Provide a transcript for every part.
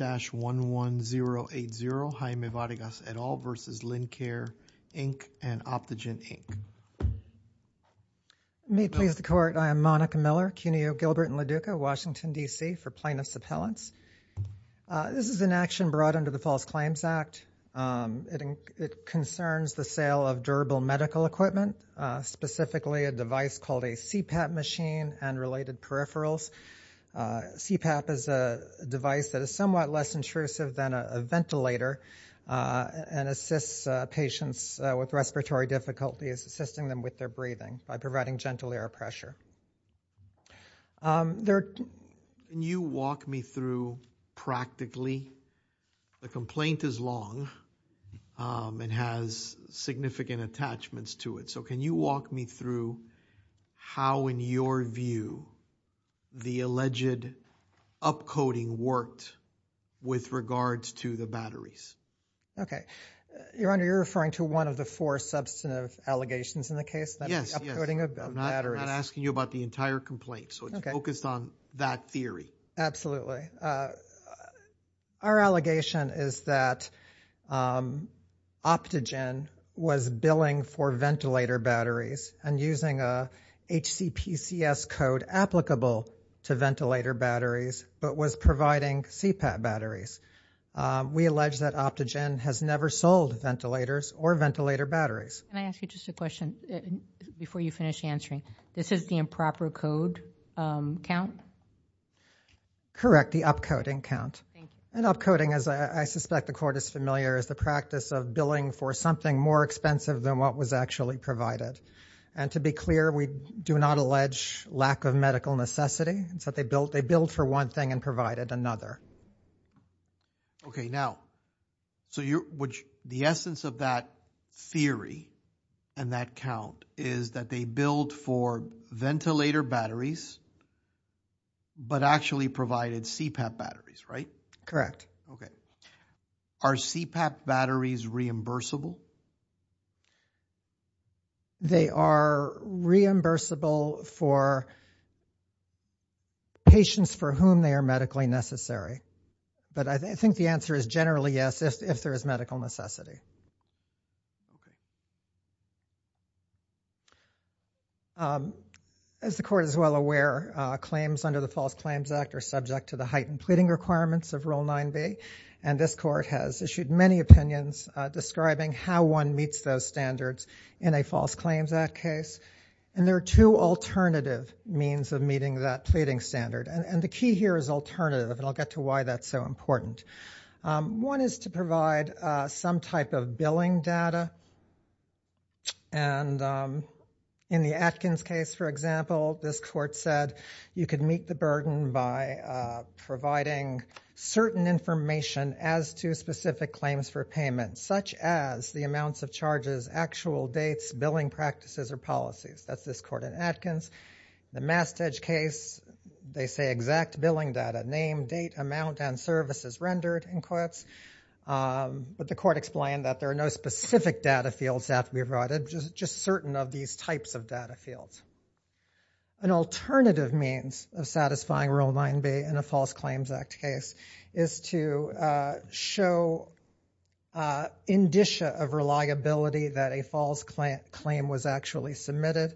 May it please the Court, I am Monica Miller, Cuneo, Gilbert & Laduca, Washington, D.C. for Plaintiffs' Appellants. This is an action brought under the False Claims Act. It concerns the sale of durable medical equipment, specifically a device called a CPAP machine and related peripherals. CPAP is a device that is somewhat less intrusive than a ventilator and assists patients with respiratory difficulties, assisting them with their breathing by providing gentle air pressure. You walk me through practically the complaint is long and has significant attachments to it. So can you walk me through how, in your view, the alleged upcoding worked with regards to the batteries? Okay. Your Honor, you're referring to one of the four substantive allegations in the case? Yes, yes. The upcoding of batteries. I'm not asking you about the entire complaint, so it's focused on that theory. Absolutely. Our allegation is that Optogen was billing for ventilator batteries and using a HCPCS code applicable to ventilator batteries but was providing CPAP batteries. We allege that Optogen has never sold ventilators or ventilator batteries. Can I ask you just a question before you finish answering? This is the improper code count? Correct. The upcoding count. Thank you. And upcoding, as I suspect the Court is familiar, is the practice of billing for something more expensive than what was actually provided. And to be clear, we do not allege lack of medical necessity, so they billed for one thing and provided another. Okay. Now, so the essence of that theory and that count is that they billed for ventilator batteries but actually provided CPAP batteries, right? Correct. Okay. Are CPAP batteries reimbursable? They are reimbursable for patients for whom they are medically necessary. But I think the answer is generally yes, if there is medical necessity. Okay. As the Court is well aware, claims under the False Claims Act are subject to the heightened pleading requirements of Rule 9b. And this Court has issued many opinions describing how one meets those standards in a False Claims Act case. And there are two alternative means of meeting that pleading standard. And the key here is alternative, and I'll get to why that's so important. One is to provide some type of billing data. And in the Atkins case, for example, this Court said you could meet the burden by providing certain information as to specific claims for payment, such as the amounts of charges, actual dates, billing practices, or policies. That's this Court in Atkins. In the Mastedge case, they say exact billing data, name, date, amount, and service is rendered, in quotes. But the Court explained that there are no specific data fields that can be provided, just certain of these types of data fields. An alternative means of satisfying Rule 9b in a False Claims Act case is to show indicia of reliability that a false claim was actually submitted.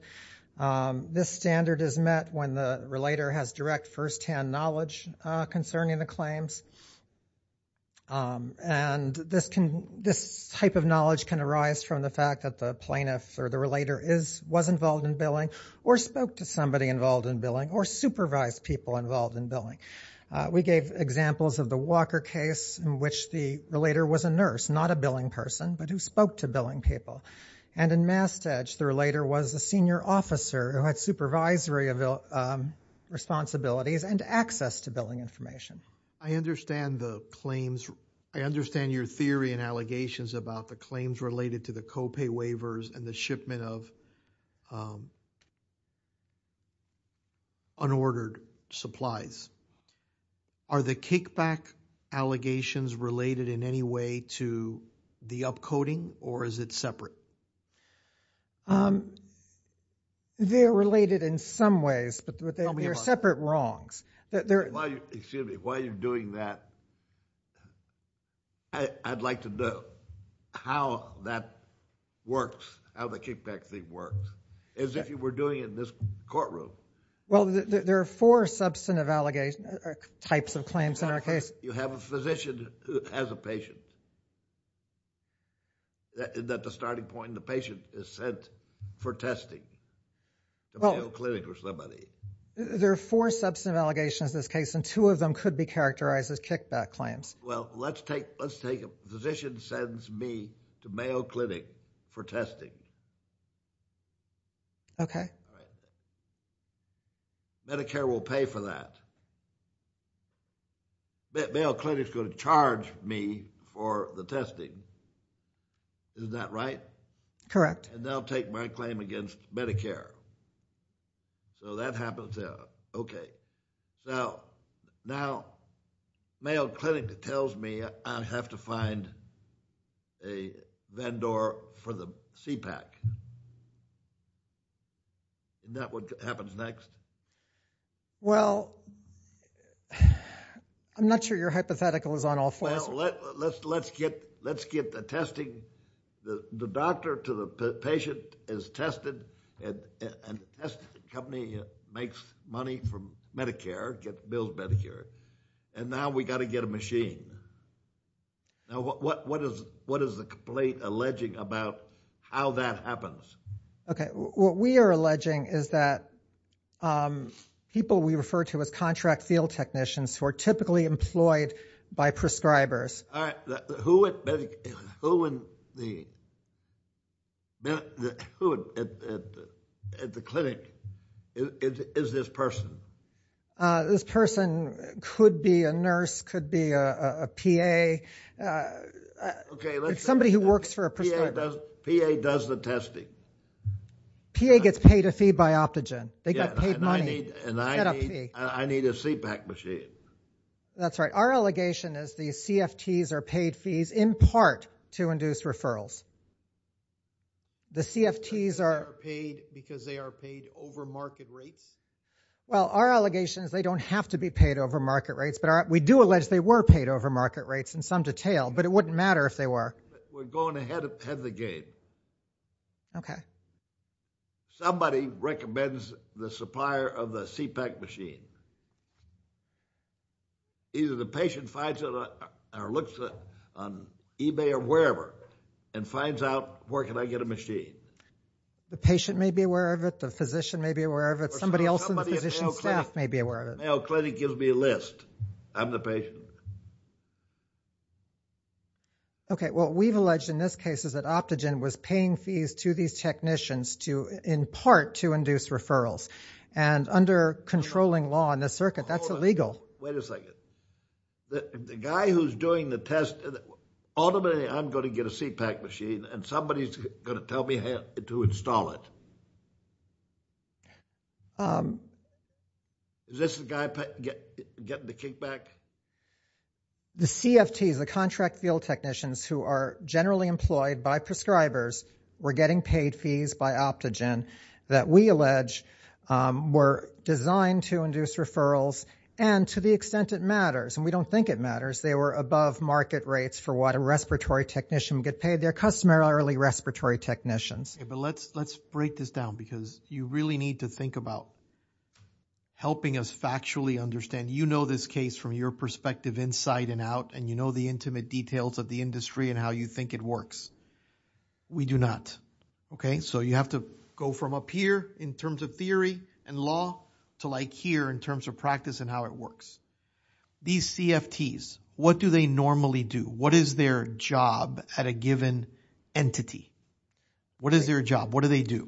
This standard is met when the relator has direct, firsthand knowledge concerning the And this type of knowledge can arise from the fact that the plaintiff or the relator was involved in billing, or spoke to somebody involved in billing, or supervised people involved in billing. We gave examples of the Walker case, in which the relator was a nurse, not a billing person, but who spoke to billing people. And in Mastedge, the relator was a senior officer who had supervisory responsibilities and access to billing information. I understand your theory and allegations about the claims related to the copay waivers and the shipment of unordered supplies. Are the kickback allegations related in any way to the upcoding, or is it separate? They are related in some ways, but they are separate wrongs. While you're doing that, I'd like to know how that works, how the kickback thing works, as if you were doing it in this courtroom. Well, there are four types of claims in our case. You have a physician who has a patient, and at the starting point, the patient is sent for testing to Mayo Clinic or somebody. There are four substantive allegations in this case, and two of them could be characterized as kickback claims. Well, let's take a physician sends me to Mayo Clinic for testing. Okay. Medicare will pay for that. Mayo Clinic is going to charge me for the testing. Isn't that right? Correct. And they'll take my claim against Medicare. So that happens there. Now, Mayo Clinic tells me I have to find a vendor for the CPAC. Isn't that what happens next? Well, I'm not sure your hypothetical is on all fours. Well, let's get the testing. The doctor to the patient is tested, and the testing company makes money from Medicare, builds Medicare, and now we've got to get a machine. Now, what is the complaint alleging about how that happens? Okay. What we are alleging is that people we refer to as contract field technicians who are typically employed by prescribers. All right. Who at the clinic is this person? This person could be a nurse, could be a PA. It's somebody who works for a prescriber. PA does the testing. PA gets paid a fee by Optogen. They get paid money. And I need a CPAC machine. That's right. Our allegation is the CFTs are paid fees in part to induce referrals. The CFTs are paid because they are paid over market rates? Well, our allegation is they don't have to be paid over market rates, but we do allege they were paid over market rates in some detail, but it wouldn't matter if they were. We're going ahead of the game. Okay. Somebody recommends the supplier of the CPAC machine. Either the patient finds it or looks on eBay or wherever and finds out where can I get a machine. The patient may be aware of it. The physician may be aware of it. Somebody else in the physician's staff may be aware of it. Mayo Clinic gives me a list. I'm the patient. Okay. What we've alleged in this case is that Optogen was paying fees to these technicians in part to induce referrals. And under controlling law in the circuit, that's illegal. Wait a second. The guy who's doing the test, ultimately I'm going to get a CPAC machine and somebody's going to tell me how to install it. Is this the guy getting the kickback? The CFTs, the contract field technicians who are generally employed by prescribers, were getting paid fees by Optogen that we allege were designed to induce referrals. And to the extent it matters, and we don't think it matters, they were above market rates for what a respiratory technician would get paid. They're customarily respiratory technicians. Let's break this down because you really need to think about helping us factually understand. You know this case from your perspective inside and out. And you know the intimate details of the industry and how you think it works. We do not. So you have to go from up here in terms of theory and law to like here in terms of practice and how it works. These CFTs, what do they normally do? What is their job at a given entity? What is their job? What do they do?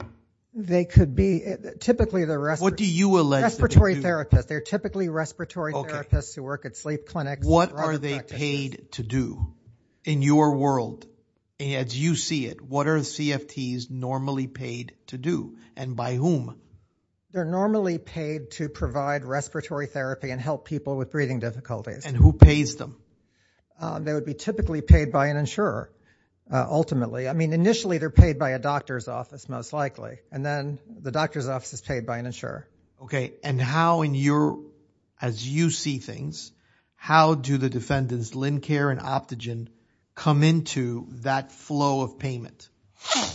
They could be typically the respiratory therapist. They're typically respiratory therapists who work at sleep clinics. What are they paid to do? In your world, as you see it, what are CFTs normally paid to do? And by whom? They're normally paid to provide respiratory therapy and help people with breathing difficulties. And who pays them? They would be typically paid by an insurer ultimately. I mean initially they're paid by a doctor's office most likely. And then the doctor's office is paid by an insurer. And how in your, as you see things, how do the defendants, Lincare and Optogen, come into that flow of payment?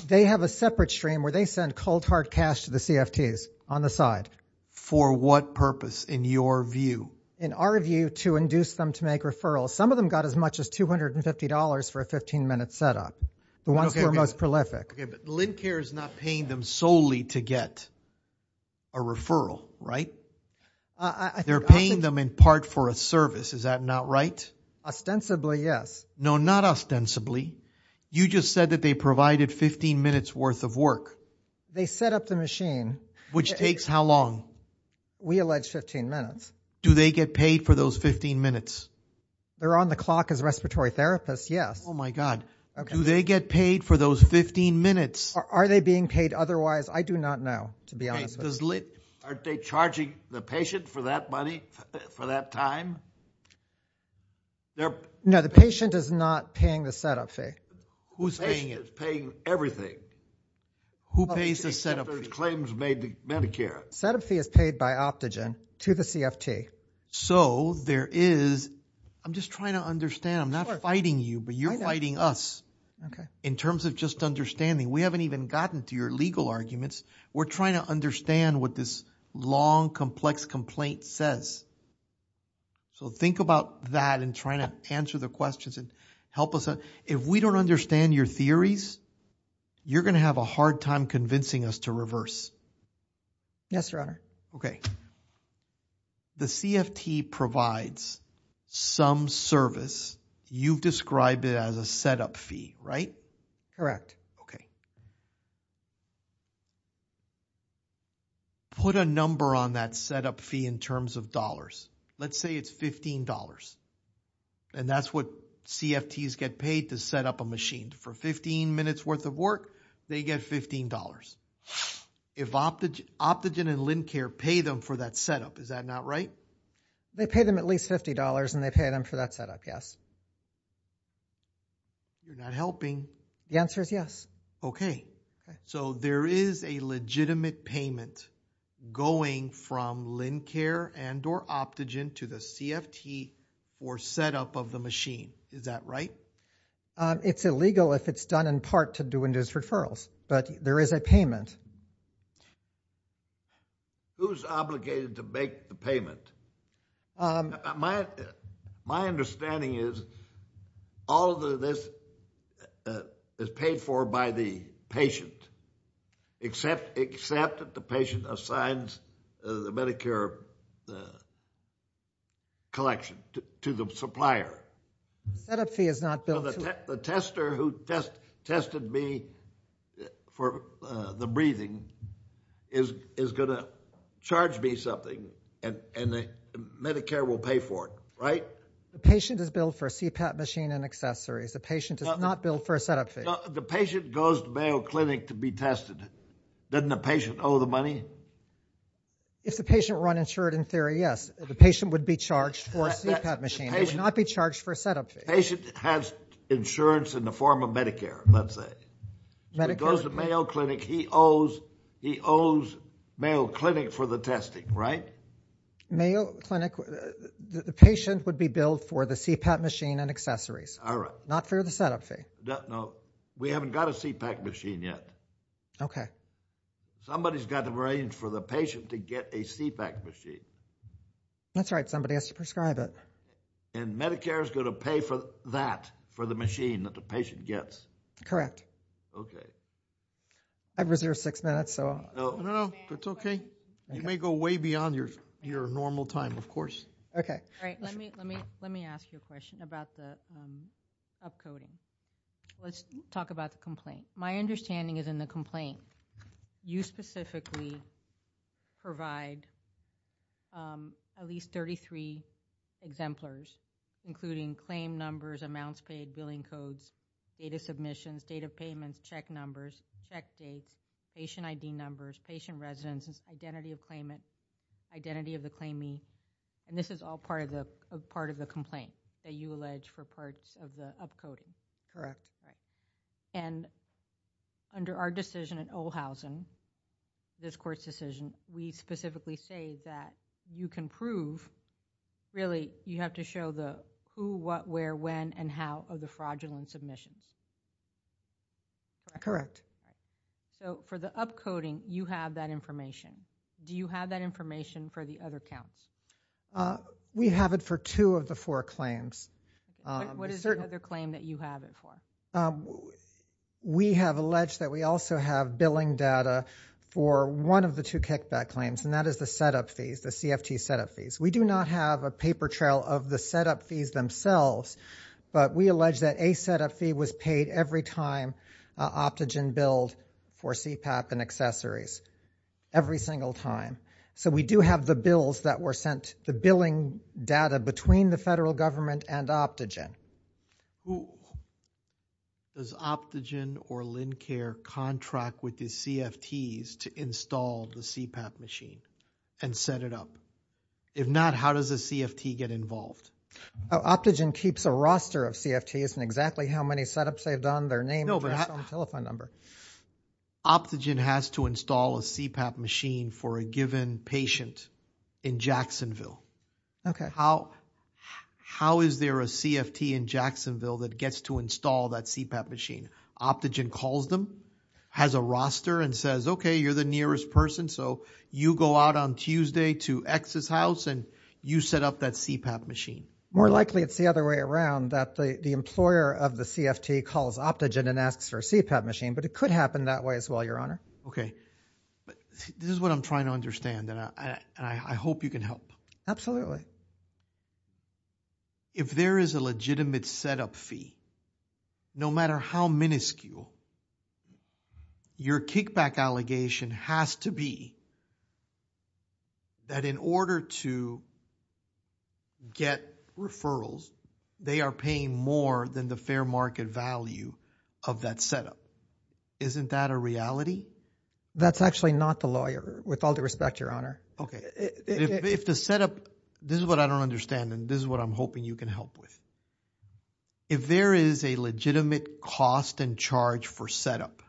They have a separate stream where they send cold hard cash to the CFTs on the side. For what purpose in your view? In our view, to induce them to make referrals. Some of them got as much as $250 for a 15-minute setup. The ones who are most prolific. But Lincare is not paying them solely to get a referral, right? They're paying them in part for a service. Is that not right? Ostensibly, yes. No, not ostensibly. You just said that they provided 15 minutes worth of work. They set up the machine. Which takes how long? We allege 15 minutes. Do they get paid for those 15 minutes? They're on the clock as respiratory therapists, yes. Oh my God. Do they get paid for those 15 minutes? Are they being paid otherwise? I do not know, to be honest with you. Aren't they charging the patient for that money, for that time? No, the patient is not paying the setup fee. Who's paying it? The patient is paying everything. Who pays the setup fee? The claims made to Medicare. The setup fee is paid by Optogen to the CFT. So there is, I'm just trying to understand. I'm not fighting you, but you're fighting us in terms of just understanding. We haven't even gotten to your legal arguments. We're trying to understand what this long, complex complaint says. So think about that in trying to answer the questions and help us out. If we don't understand your theories, you're going to have a hard time convincing us to reverse. Yes, Your Honor. Okay. The CFT provides some service. You've described it as a setup fee, right? Correct. Okay. Put a number on that setup fee in terms of dollars. Let's say it's $15. And that's what CFTs get paid to set up a machine. For 15 minutes worth of work, they get $15. If Optogen and Lencare pay them for that setup, is that not right? They pay them at least $50, and they pay them for that setup, yes. You're not helping. The answer is yes. Okay. So there is a legitimate payment going from Lencare and or Optogen to the CFT for setup of the machine. Is that right? It's illegal if it's done in part to do induced referrals. But there is a payment. Who's obligated to make the payment? My understanding is all of this is paid for by the patient, except that the patient assigns the Medicare collection to the supplier. The setup fee is not billed to— The tester who tested me for the breathing is going to charge me something, and Medicare will pay for it, right? The patient is billed for a CPAP machine and accessories. The patient is not billed for a setup fee. The patient goes to Mayo Clinic to be tested. Doesn't the patient owe the money? If the patient were uninsured in theory, yes. The patient would be charged for a CPAP machine. They would not be charged for a setup fee. The patient has insurance in the form of Medicare, let's say. If he goes to Mayo Clinic, he owes Mayo Clinic for the testing, right? Mayo Clinic—the patient would be billed for the CPAP machine and accessories. All right. Not for the setup fee. No. We haven't got a CPAP machine yet. Okay. Somebody's got to arrange for the patient to get a CPAP machine. That's right. Somebody has to prescribe it. And Medicare is going to pay for that, for the machine that the patient gets. Correct. Okay. I've reserved six minutes, so— No, no, no. It's okay. You may go way beyond your normal time, of course. Okay. All right. Let me ask you a question about the upcoding. Let's talk about the complaint. My understanding is in the complaint, you specifically provide at least 33 exemplars, including claim numbers, amounts paid, billing codes, data submissions, date of payments, check numbers, check dates, patient ID numbers, patient residences, identity of claimant, identity of the claimee. And this is all part of the complaint that you allege for parts of the upcoding. And under our decision at Ohlhausen, this court's decision, we specifically say that you can prove— really, you have to show the who, what, where, when, and how of the fraudulent submissions. Correct. So for the upcoding, you have that information. Do you have that information for the other counts? We have it for two of the four claims. What is the other claim that you have it for? We have alleged that we also have billing data for one of the two kickback claims, and that is the set-up fees, the CFT set-up fees. We do not have a paper trail of the set-up fees themselves, but we allege that a set-up fee was paid every time Optogen billed for CPAP and accessories. Every single time. So we do have the bills that were sent, the billing data between the federal government and Optogen. Who does Optogen or Lincare contract with the CFTs to install the CPAP machine and set it up? If not, how does the CFT get involved? Optogen keeps a roster of CFTs, and exactly how many set-ups they've done, their name, address, phone, telephone number. Optogen has to install a CPAP machine for a given patient in Jacksonville. Okay. How is there a CFT in Jacksonville that gets to install that CPAP machine? Optogen calls them, has a roster, and says, okay, you're the nearest person, so you go out on Tuesday to X's house, and you set up that CPAP machine. More likely it's the other way around, that the employer of the CFT calls Optogen and asks for a CPAP machine, but it could happen that way as well, Your Honor. Okay. This is what I'm trying to understand, and I hope you can help. Absolutely. If there is a legitimate set-up fee, no matter how minuscule, your kickback allegation has to be that in order to get referrals, they are paying more than the fair market value of that set-up. Isn't that a reality? That's actually not the lawyer, with all due respect, Your Honor. Okay. If the set-up, this is what I don't understand, and this is what I'm hoping you can help with. If there is a legitimate cost and charge for set-up,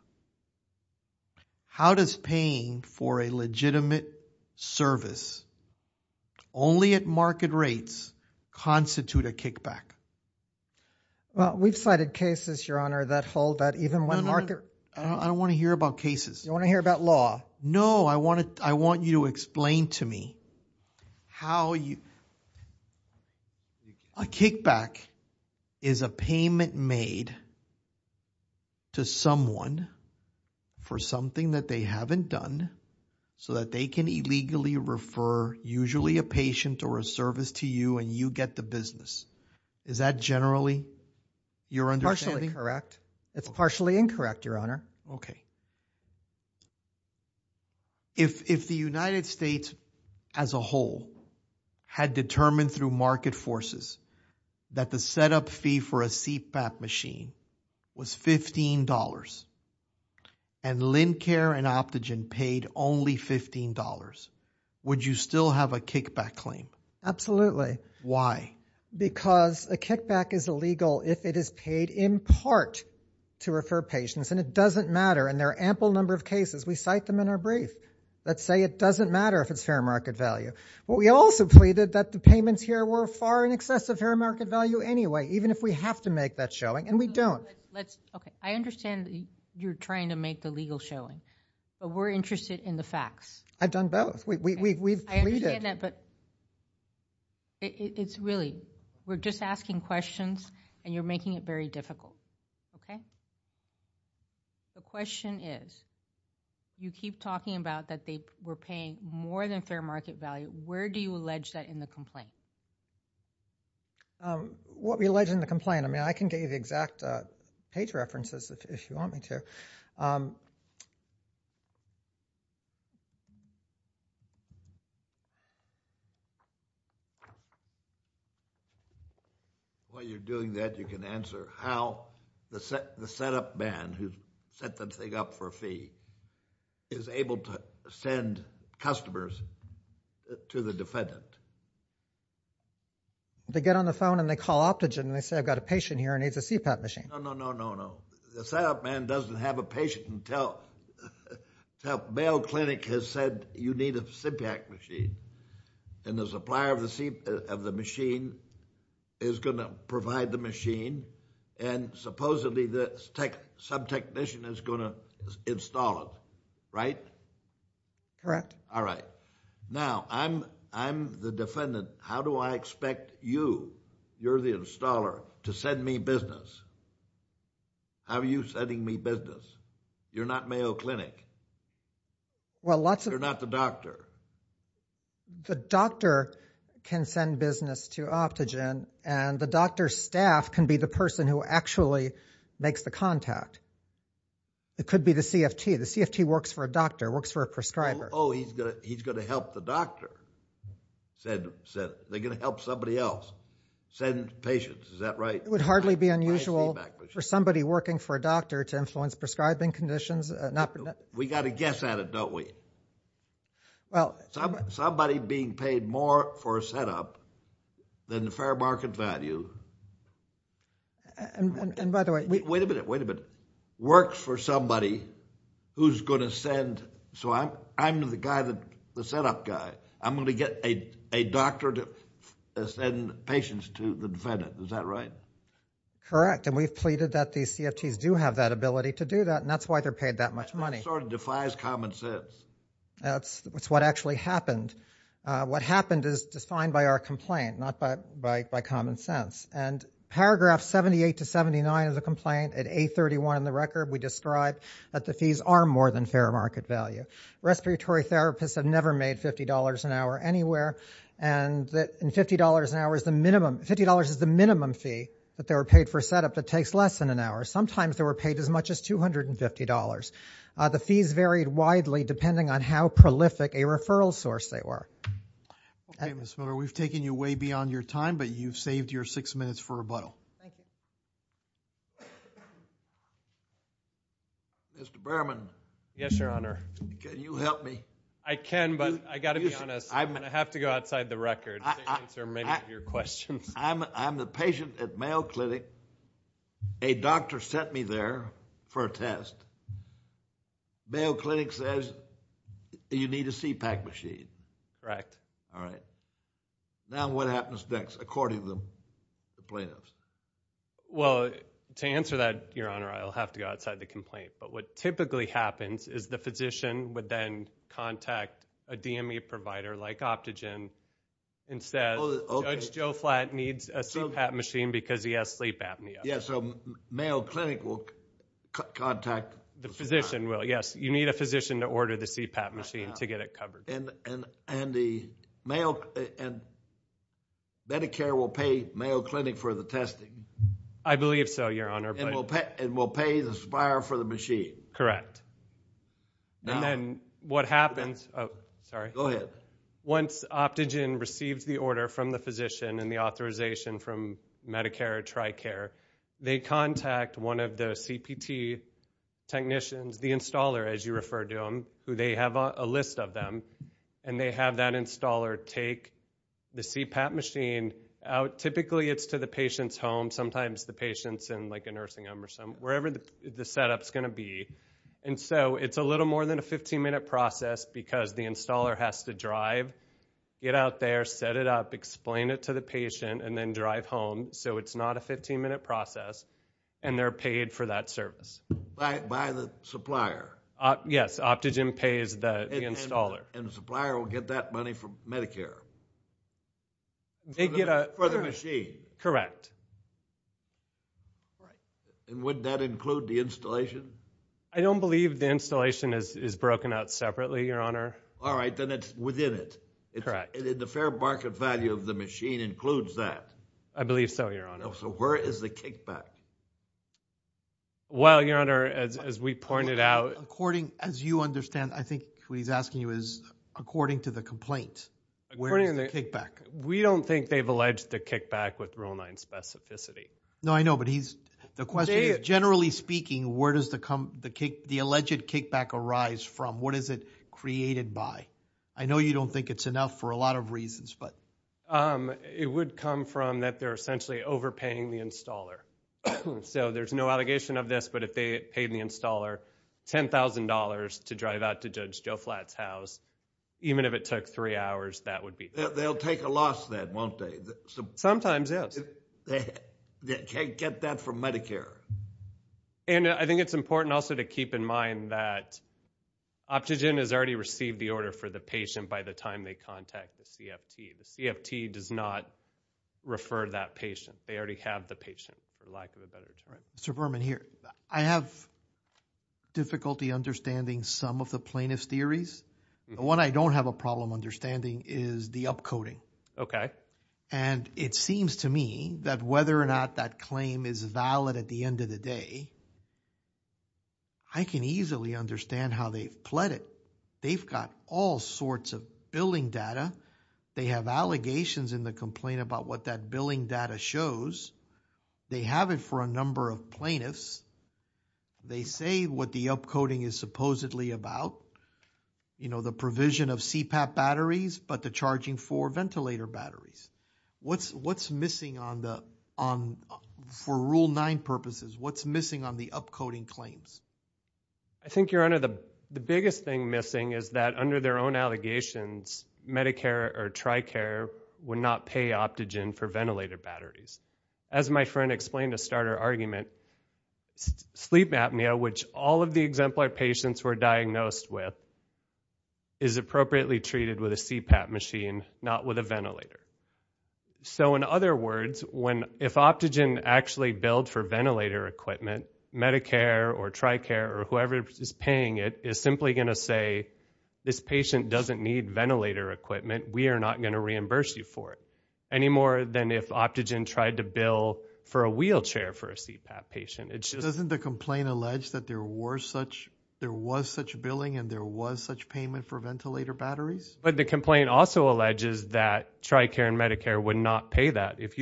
how does paying for a legitimate service only at market rates constitute a kickback? Well, we've cited cases, Your Honor, that hold that even when market... I don't want to hear about cases. You want to hear about law? No. I want you to explain to me how a kickback is a payment made to someone for something that they haven't done so that they can illegally refer usually a patient or a service to you and you get the business. Is that generally your understanding? Partially correct. It's partially incorrect, Your Honor. Okay. If the United States as a whole had determined through market forces that the set-up fee for a CPAP machine was $15 and Lincare and Optogen paid only $15, would you still have a kickback claim? Absolutely. Why? Because a kickback is illegal if it is paid in part to refer patients, and it doesn't matter, and there are an ample number of cases. We cite them in our brief that say it doesn't matter if it's fair market value. We also pleaded that the payments here were far in excess of fair market value anyway, even if we have to make that showing, and we don't. Okay. I understand you're trying to make the legal showing, but we're interested in the facts. I've done both. We've pleaded. I understand that, but it's really we're just asking questions, and you're making it very difficult. Okay? The question is you keep talking about that they were paying more than fair market value. Where do you allege that in the complaint? What we allege in the complaint? I mean, I can give you the exact page references if you want me to. While you're doing that, you can answer how the setup man who set that thing up for a fee is able to send customers to the defendant. They get on the phone and they call Optogen, and they say I've got a patient here who needs a CPAP machine. No, no, no, no, no. The setup man doesn't have a patient until bail clinic has said you need a CPAP machine, and the supplier of the machine is going to provide the machine, and supposedly the sub-technician is going to install it, right? Correct. All right. Now, I'm the defendant. How do I expect you, you're the installer, to send me business? How are you sending me business? You're not Mayo Clinic. You're not the doctor. The doctor can send business to Optogen, and the doctor's staff can be the person who actually makes the contact. It could be the CFT. The CFT works for a doctor, works for a prescriber. Oh, he's going to help the doctor. They're going to help somebody else send patients. Is that right? It would hardly be unusual for somebody working for a doctor to influence prescribing conditions. We got to guess at it, don't we? Somebody being paid more for a setup than the fair market value. Wait a minute, wait a minute. Works for somebody who's going to send, so I'm the setup guy. I'm going to get a doctor to send patients to the defendant. Is that right? Correct, and we've pleaded that these CFTs do have that ability to do that, and that's why they're paid that much money. That sort of defies common sense. That's what actually happened. What happened is defined by our complaint, not by common sense. And paragraph 78 to 79 of the complaint, at 831 in the record, we describe that the fees are more than fair market value. Respiratory therapists have never made $50 an hour anywhere, and that $50 an hour is the minimum fee that they were paid for a setup that takes less than an hour. Sometimes they were paid as much as $250. The fees varied widely depending on how prolific a referral source they were. Okay, Ms. Miller, we've taken you way beyond your time, but you've saved your six minutes for rebuttal. Mr. Berman. Yes, Your Honor. Can you help me? I can, but I've got to be honest. I have to go outside the record to answer many of your questions. I'm the patient at Mayo Clinic. A doctor sent me there for a test. Mayo Clinic says you need a CPAC machine. Correct. All right. Now what happens next according to the plaintiffs? Well, to answer that, Your Honor, I'll have to go outside the complaint. But what typically happens is the physician would then contact a DME provider like Optogen and says Judge Joe Flatt needs a CPAC machine because he has sleep apnea. Yes, so Mayo Clinic will contact the supplier. The physician will, yes. You need a physician to order the CPAC machine to get it covered. And Medicare will pay Mayo Clinic for the testing? I believe so, Your Honor. And will pay the supplier for the machine? And then what happens? Oh, sorry. Go ahead. Once Optogen receives the order from the physician and the authorization from Medicare TriCare, they contact one of the CPT technicians, the installer as you refer to them, who they have a list of them, and they have that installer take the CPAC machine out. Typically it's to the patient's home. Sometimes the patient's in, like, a nursing home or wherever the setup's going to be. And so it's a little more than a 15-minute process because the installer has to drive, get out there, set it up, explain it to the patient, and then drive home. So it's not a 15-minute process, and they're paid for that service. By the supplier? Yes, Optogen pays the installer. And the supplier will get that money from Medicare for the machine? Correct. And would that include the installation? I don't believe the installation is broken out separately, Your Honor. All right. Then it's within it. Correct. And the fair market value of the machine includes that? I believe so, Your Honor. So where is the kickback? Well, Your Honor, as we pointed out. According, as you understand, I think what he's asking you is, according to the complaint, where is the kickback? We don't think they've alleged the kickback with Rule 9 specificity. No, I know, but the question is, generally speaking, where does the alleged kickback arise from? What is it created by? I know you don't think it's enough for a lot of reasons, but... It would come from that they're essentially overpaying the installer. So there's no allegation of this, but if they paid the installer $10,000 to drive out to Judge Joe Flatt's house, even if it took three hours, that would be... They'll take a loss then, won't they? Sometimes, yes. Get that from Medicare. And I think it's important also to keep in mind that Optogen has already received the order for the patient by the time they contact the CFT. The CFT does not refer that patient. They already have the patient, for lack of a better term. Mr. Berman, here. I have difficulty understanding some of the plaintiff's theories. The one I don't have a problem understanding is the upcoding. And it seems to me that whether or not that claim is valid at the end of the day, I can easily understand how they've pled it. They've got all sorts of billing data. They have allegations in the complaint about what that billing data shows. They have it for a number of plaintiffs. They say what the upcoding is supposedly about, you know, the provision of CPAP batteries, but the charging for ventilator batteries. What's missing for Rule 9 purposes? What's missing on the upcoding claims? I think, Your Honor, the biggest thing missing is that under their own allegations, Medicare or TRICARE would not pay Optogen for ventilator batteries. As my friend explained a starter argument, sleep apnea, which all of the exemplar patients were diagnosed with, is appropriately treated with a CPAP machine, not with a ventilator. So, in other words, if Optogen actually billed for ventilator equipment, Medicare or TRICARE or whoever is paying it is simply going to say, this patient doesn't need ventilator equipment. We are not going to reimburse you for it. Any more than if Optogen tried to bill for a wheelchair for a CPAP patient. Doesn't the complaint allege that there was such billing and there was such payment for ventilator batteries? But the complaint also alleges that TRICARE and Medicare would not pay that. If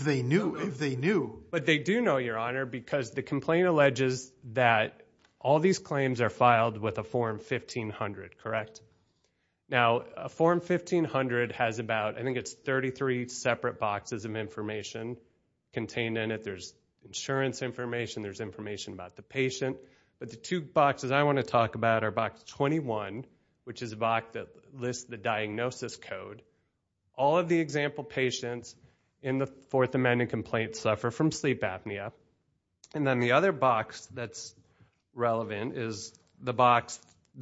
they knew, if they knew. But they do know, Your Honor, because the complaint alleges that all these claims are filed with a Form 1500, correct? Now, a Form 1500 has about, I think it's 33 separate boxes of information contained in it. There's insurance information, there's information about the patient. But the two boxes I want to talk about are Box 21, which is a box that lists the diagnosis code. All of the example patients in the Fourth Amendment complaint suffer from sleep apnea. And then the other box that's relevant is the box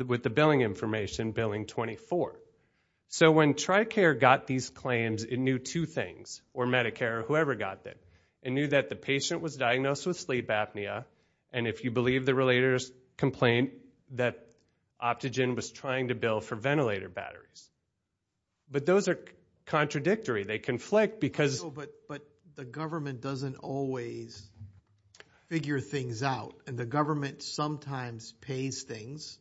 with the billing information, Billing 24. So, when TRICARE got these claims, it knew two things, or Medicare or whoever got them. It knew that the patient was diagnosed with sleep apnea. And if you believe the relator's complaint, that Optogen was trying to bill for ventilator batteries. But those are contradictory. They conflict because... But the government doesn't always figure things out. And the government sometimes pays things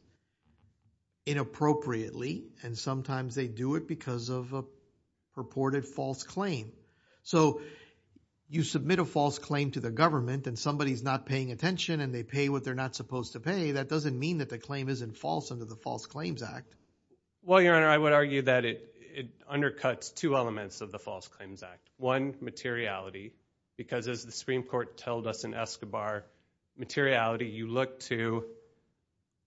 inappropriately. And sometimes they do it because of a purported false claim. So, you submit a false claim to the government, and somebody's not paying attention, and they pay what they're not supposed to pay. That doesn't mean that the claim isn't false under the False Claims Act. Well, Your Honor, I would argue that it undercuts two elements of the False Claims Act. One, materiality, because as the Supreme Court told us in Escobar, materiality, you look to...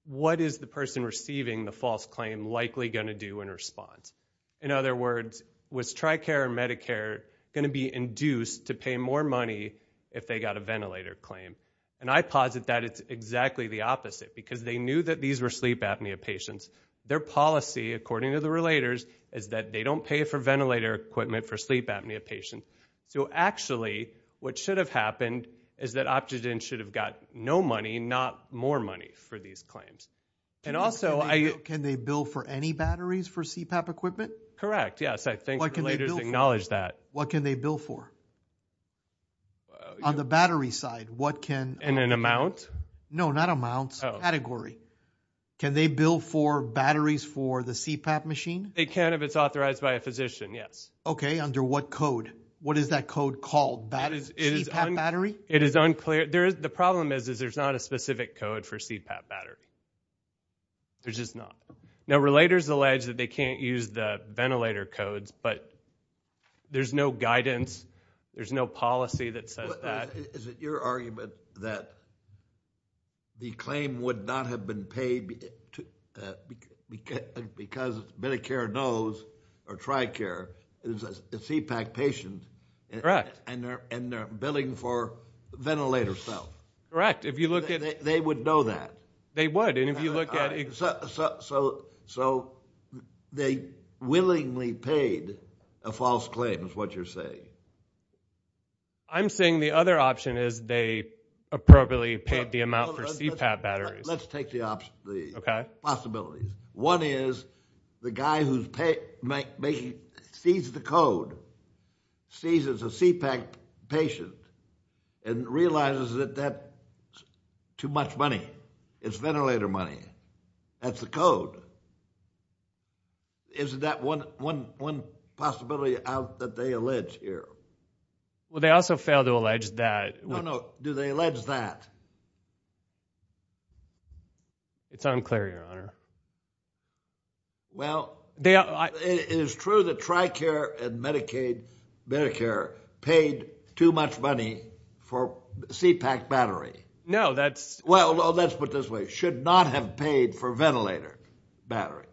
What is the person receiving the false claim likely going to do in response? In other words, was TRICARE or Medicare going to be induced to pay more money if they got a ventilator claim? And I posit that it's exactly the opposite, because they knew that these were sleep apnea patients. Their policy, according to the relators, is that they don't pay for ventilator equipment for sleep apnea patients. So actually, what should have happened is that Optogen should have got no money, not more money for these claims. And also, I... Can they bill for any batteries for CPAP equipment? Correct, yes. I think relators acknowledge that. What can they bill for? On the battery side, what can... In an amount? No, not amounts. Category. Can they bill for batteries for the CPAP machine? They can if it's authorized by a physician, yes. Okay, under what code? What is that code called? CPAP battery? It is unclear. The problem is there's not a specific code for CPAP battery. There's just not. Now, relators allege that they can't use the ventilator codes, but there's no guidance. There's no policy that says that. Is it your argument that the claim would not have been paid because Medicare knows or Tricare is a CPAP patient? And they're billing for ventilator stuff? Correct. They would know that? They would, and if you look at... So they willingly paid a false claim is what you're saying? I'm saying the other option is they appropriately paid the amount for CPAP batteries. Let's take the possibilities. One is the guy who sees the code, sees it's a CPAP patient, and realizes that that's too much money. It's ventilator money. That's the code. Isn't that one possibility out that they allege here? Well, they also fail to allege that... No, no. Do they allege that? It's unclear, Your Honor. Well, it is true that Tricare and Medicare paid too much money for CPAP battery. No, that's... Well, let's put it this way. Should not have paid for ventilator battery.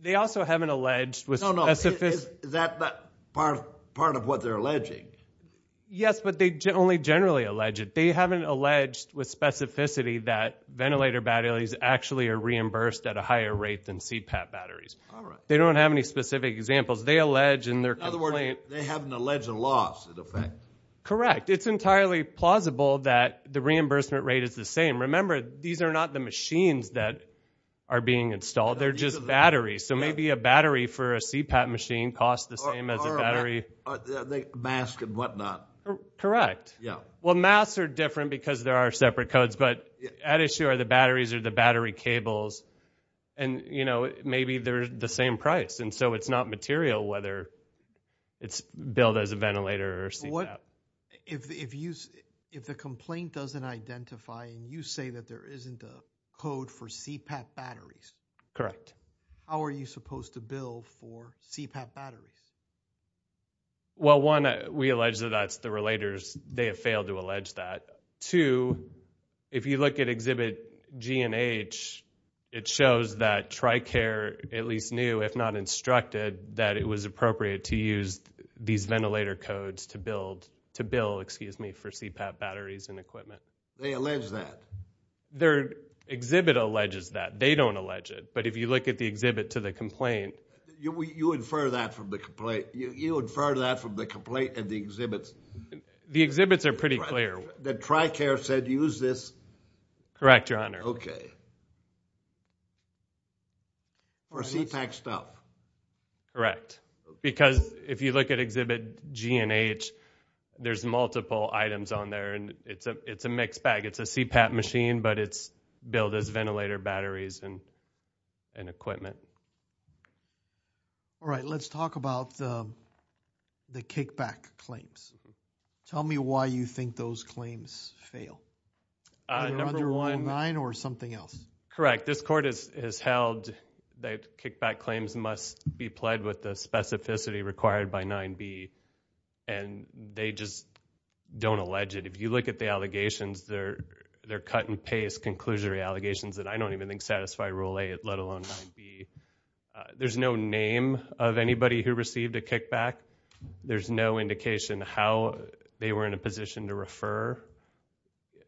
They also haven't alleged... No, no. Is that part of what they're alleging? Yes, but they only generally allege it. They haven't alleged with specificity that ventilator batteries actually are reimbursed at a higher rate than CPAP batteries. All right. They don't have any specific examples. They allege in their complaint... In other words, they haven't alleged a loss, in effect. Correct. In fact, it's entirely plausible that the reimbursement rate is the same. Remember, these are not the machines that are being installed. They're just batteries. So maybe a battery for a CPAP machine costs the same as a battery... Or a mask and whatnot. Correct. Yeah. Well, masks are different because there are separate codes. But at issue are the batteries or the battery cables. And maybe they're the same price. And so it's not material whether it's billed as a ventilator or CPAP. If the complaint doesn't identify and you say that there isn't a code for CPAP batteries... Correct. How are you supposed to bill for CPAP batteries? Well, one, we allege that that's the relators. They have failed to allege that. Two, if you look at Exhibit G and H, it shows that TRICARE at least knew, if not instructed, that it was appropriate to use these ventilator codes to bill for CPAP batteries and equipment. They allege that? Exhibit alleges that. They don't allege it. But if you look at the exhibit to the complaint... You infer that from the complaint and the exhibits? The exhibits are pretty clear. That TRICARE said use this? Correct, Your Honor. Okay. Or CPAP stuff? Correct. Because if you look at Exhibit G and H, there's multiple items on there and it's a mixed bag. It's a CPAP machine, but it's billed as ventilator batteries and equipment. All right. Let's talk about the kickback claims. Tell me why you think those claims fail. Either under Rule 9 or something else. Correct. This Court has held that kickback claims must be pled with the specificity required by 9B, and they just don't allege it. If you look at the allegations, they're cut-and-paste, conclusory allegations that I don't even think satisfy Rule 8, let alone 9B. There's no name of anybody who received a kickback. There's no indication how they were in a position to refer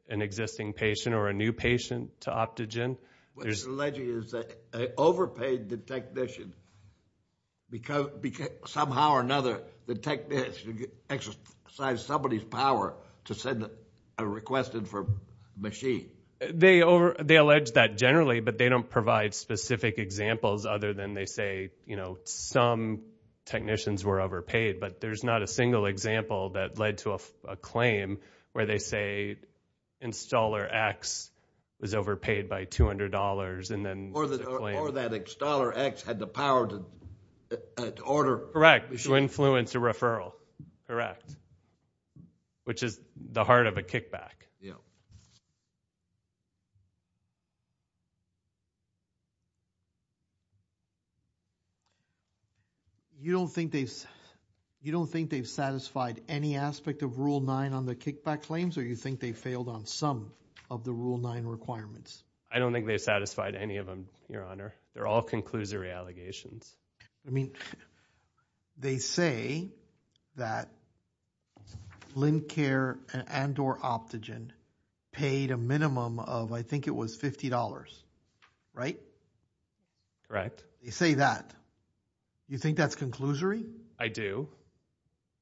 an existing patient or a new patient to Optogen. What they're alleging is they overpaid the technician because somehow or another the technician exercised somebody's power to send a request in for a machine. They allege that generally, but they don't provide specific examples other than they say some technicians were overpaid, but there's not a single example that led to a claim where they say Installer X was overpaid by $200. Or that Installer X had the power to order a machine. Correct, to influence a referral. Correct. Which is the heart of a kickback. Yeah. You don't think they've satisfied any aspect of Rule 9 on the kickback claims, or you think they failed on some of the Rule 9 requirements? I don't think they've satisfied any of them, Your Honor. They're all conclusory allegations. I mean, they say that Lincare and or Optogen paid a minimum of I think it was $50, right? Correct. They say that. You think that's conclusory? I do.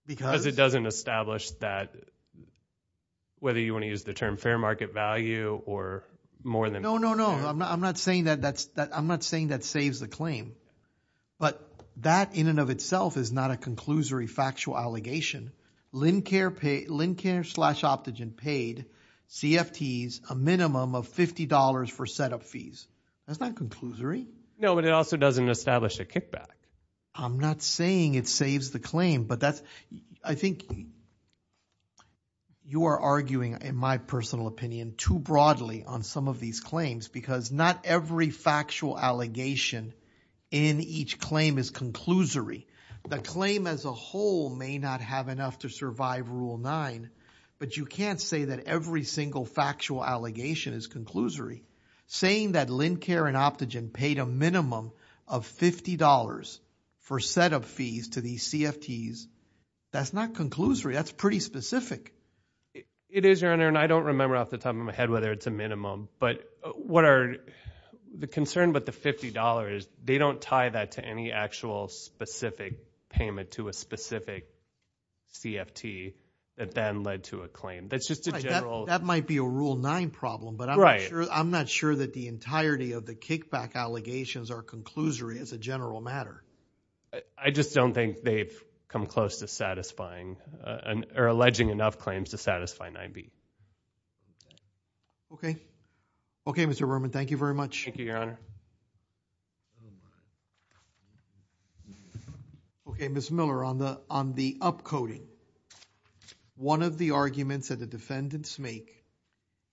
Because? Because it doesn't establish that whether you want to use the term fair market value or more than fair. No, no, no. I'm not saying that saves the claim, but that in and of itself is not a conclusory factual allegation. Lincare slash Optogen paid CFTs a minimum of $50 for setup fees. That's not conclusory. No, but it also doesn't establish a kickback. I'm not saying it saves the claim, but I think you are arguing, in my personal opinion, too broadly on some of these claims because not every factual allegation in each claim is conclusory. The claim as a whole may not have enough to survive Rule 9, but you can't say that every single factual allegation is conclusory. Saying that Lincare and Optogen paid a minimum of $50 for setup fees to these CFTs, that's not conclusory. That's pretty specific. It is, Your Honor, and I don't remember off the top of my head whether it's a minimum, but the concern with the $50 is they don't tie that to any actual specific payment to a specific CFT that then led to a claim. That's just a general – That might be a Rule 9 problem, but I'm not sure that the entirety of the kickback allegations are conclusory as a general matter. I just don't think they've come close to satisfying or alleging enough claims to satisfy 9B. Okay. Okay, Mr. Berman, thank you very much. Thank you, Your Honor. Okay, Ms. Miller, on the upcoding, one of the arguments that the defendants make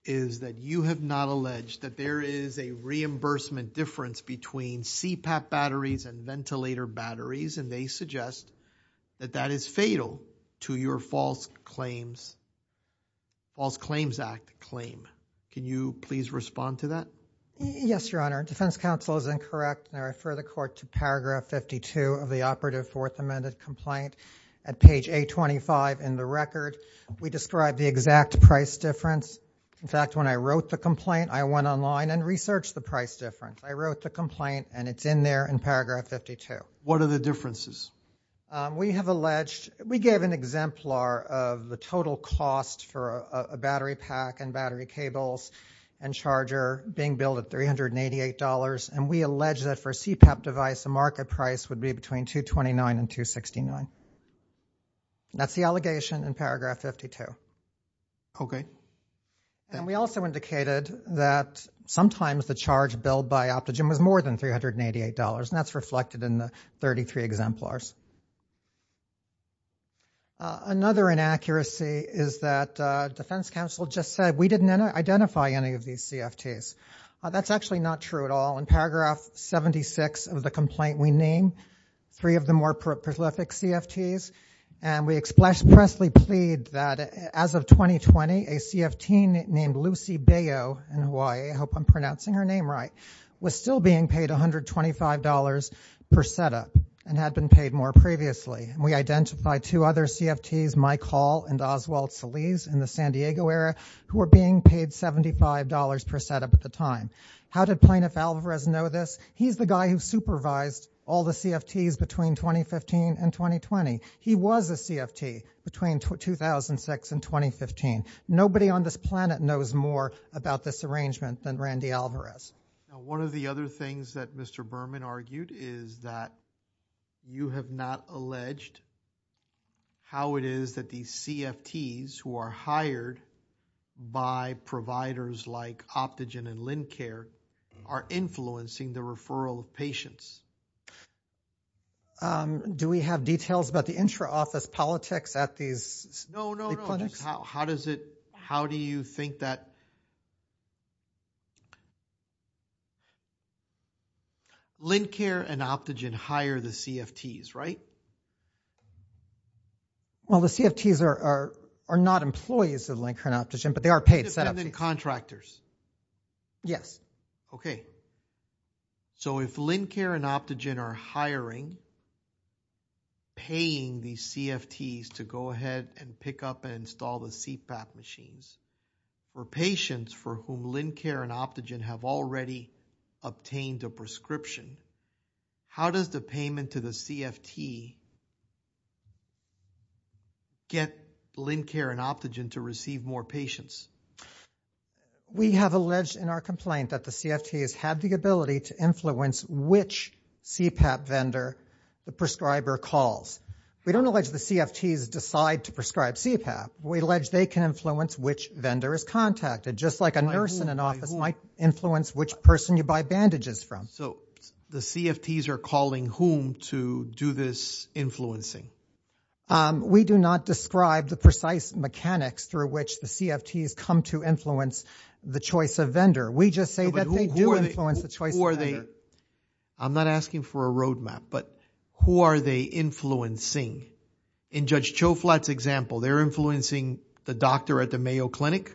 is that you have not alleged that there is a reimbursement difference between CPAP batteries and ventilator batteries, and they suggest that that is fatal to your False Claims Act claim. Can you please respond to that? Yes, Your Honor. Defense counsel is incorrect, and I refer the court to paragraph 52 of the Operative Fourth Amendment complaint at page 825 in the record. We describe the exact price difference. In fact, when I wrote the complaint, I went online and researched the price difference. I wrote the complaint, and it's in there in paragraph 52. What are the differences? We have alleged, we gave an exemplar of the total cost for a battery pack and battery cables and charger being billed at $388, and we allege that for a CPAP device, the market price would be between $229 and $269. That's the allegation in paragraph 52. Okay. And we also indicated that sometimes the charge billed by Optogen was more than $388, and that's reflected in the 33 exemplars. Another inaccuracy is that defense counsel just said we didn't identify any of these CFTs. That's actually not true at all. In paragraph 76 of the complaint, we name three of the more prolific CFTs, and we expressly plead that as of 2020, a CFT named Lucy Beyo in Hawaii, I hope I'm pronouncing her name right, was still being paid $125 per setup and had been paid more previously, and we identified two other CFTs, Mike Hall and Oswald Saliz in the San Diego area, who were being paid $75 per setup at the time. How did Plaintiff Alvarez know this? He's the guy who supervised all the CFTs between 2015 and 2020. He was a CFT between 2006 and 2015. Nobody on this planet knows more about this arrangement than Randy Alvarez. One of the other things that Mr. Berman argued is that you have not alleged how it is that these CFTs who are hired by providers like Optogen and LendCare are influencing the referral of patients. Do we have details about the intra-office politics at these clinics? No, no, no. How do you think that LendCare and Optogen hire the CFTs, right? Well, the CFTs are not employees of LendCare and Optogen, but they are paid setups. Independent contractors? Yes. Okay. So if LendCare and Optogen are hiring, paying these CFTs to go ahead and pick up and install the CPAP machines, for patients for whom LendCare and Optogen have already obtained a prescription, how does the payment to the CFT get LendCare and Optogen to receive more patients? We have alleged in our complaint that the CFTs have the ability to influence which CPAP vendor the prescriber calls. We don't allege the CFTs decide to prescribe CPAP. We allege they can influence which vendor is contacted, just like a nurse in an office might influence which person you buy bandages from. So the CFTs are calling whom to do this influencing? We do not describe the precise mechanics through which the CFTs come to influence the choice of vendor. We just say that they do influence the choice of vendor. I'm not asking for a roadmap, but who are they influencing? In Judge Choflat's example, they're influencing the doctor at the Mayo Clinic?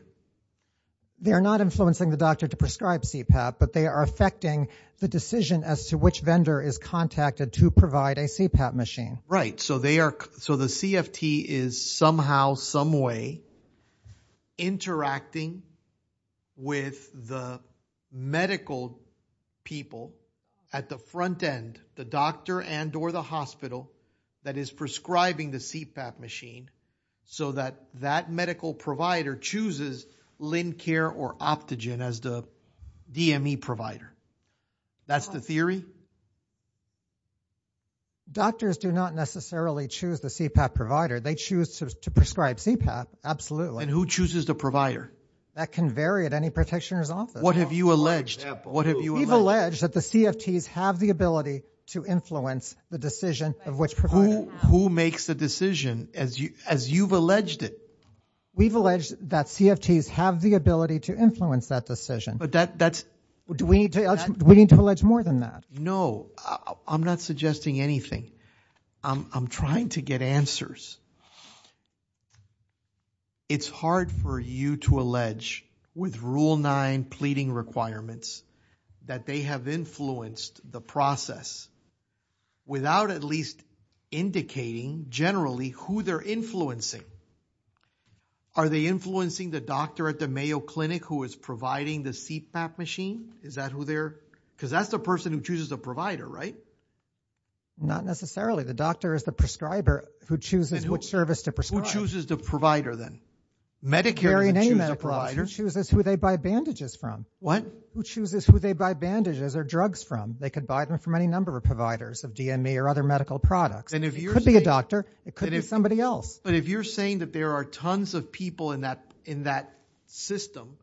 They are not influencing the doctor to prescribe CPAP, but they are affecting the decision as to which vendor is contacted to provide a CPAP machine. Right. So the CFT is somehow, someway interacting with the medical people at the front end, the doctor and or the hospital that is prescribing the CPAP machine, so that that medical provider chooses LendCare or Optogen as the DME provider. That's the theory? Doctors do not necessarily choose the CPAP provider. They choose to prescribe CPAP, absolutely. And who chooses the provider? That can vary at any protectionist's office. What have you alleged? We've alleged that the CFTs have the ability to influence the decision of which provider. Who makes the decision as you've alleged it? We've alleged that CFTs have the ability to influence that decision. But that's... Do we need to allege more than that? No. I'm not suggesting anything. I'm trying to get answers. It's hard for you to allege with Rule 9 pleading requirements that they have influenced the process without at least indicating generally who they're influencing. Are they influencing the doctor at the Mayo Clinic who is providing the CPAP machine? Is that who they're... Because that's the person who chooses the provider, right? Not necessarily. The doctor is the prescriber who chooses which service to prescribe. Who chooses the provider then? Medicare doesn't choose the provider. Who chooses who they buy bandages from? What? Who chooses who they buy bandages or drugs from? They could buy them from any number of providers of DME or other medical products. It could be a doctor. It could be somebody else. But if you're saying that there are tons of people in that system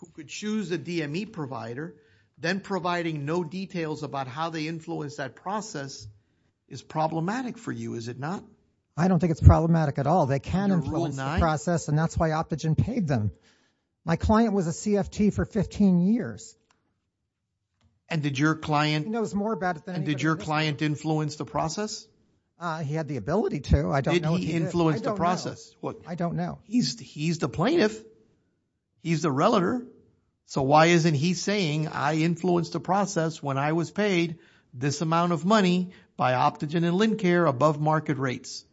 who could choose a DME provider, then providing no details about how they influence that process is problematic for you, is it not? I don't think it's problematic at all. They can influence the process, and that's why Optogen paid them. My client was a CFT for 15 years. And did your client influence the process? He had the ability to. Did he influence the process? I don't know. He's the plaintiff. He's the relator. So why isn't he saying, I influenced the process when I was paid this amount of money by Optogen and LendCare above market rates?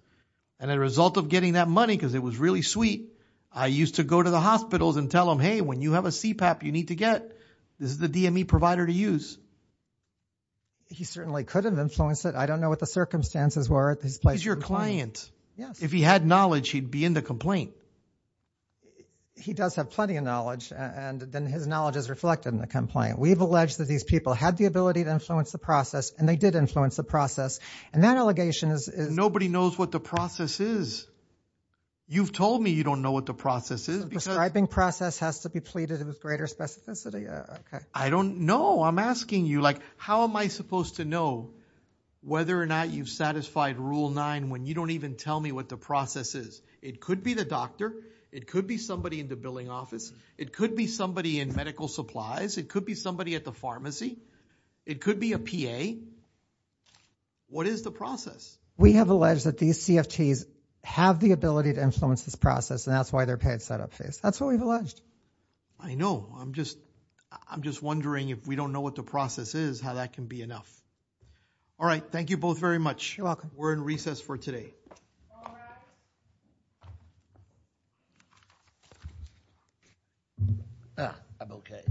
And as a result of getting that money, because it was really sweet, I used to go to the hospitals and tell them, Hey, when you have a CPAP you need to get, this is the DME provider to use. He certainly could have influenced it. I don't know what the circumstances were at this place. He's your client. If he had knowledge, he'd be in the complaint. He does have plenty of knowledge, and then his knowledge is reflected in the complaint. We've alleged that these people had the ability to influence the process, and they did influence the process. And that allegation is... Nobody knows what the process is. You've told me you don't know what the process is. The prescribing process has to be pleaded with greater specificity. I don't know. I'm asking you. How am I supposed to know whether or not you've satisfied Rule 9 when you don't even tell me what the process is? It could be the doctor. It could be somebody in the billing office. It could be somebody in medical supplies. It could be somebody at the pharmacy. It could be a PA. What is the process? We have alleged that these CFTs have the ability to influence this process, and that's why they're paid set-up fees. That's what we've alleged. I know. I'm just wondering if we don't know what the process is, how that can be enough. All right. Thank you both very much. You're welcome. We're in recess for today. I'm okay.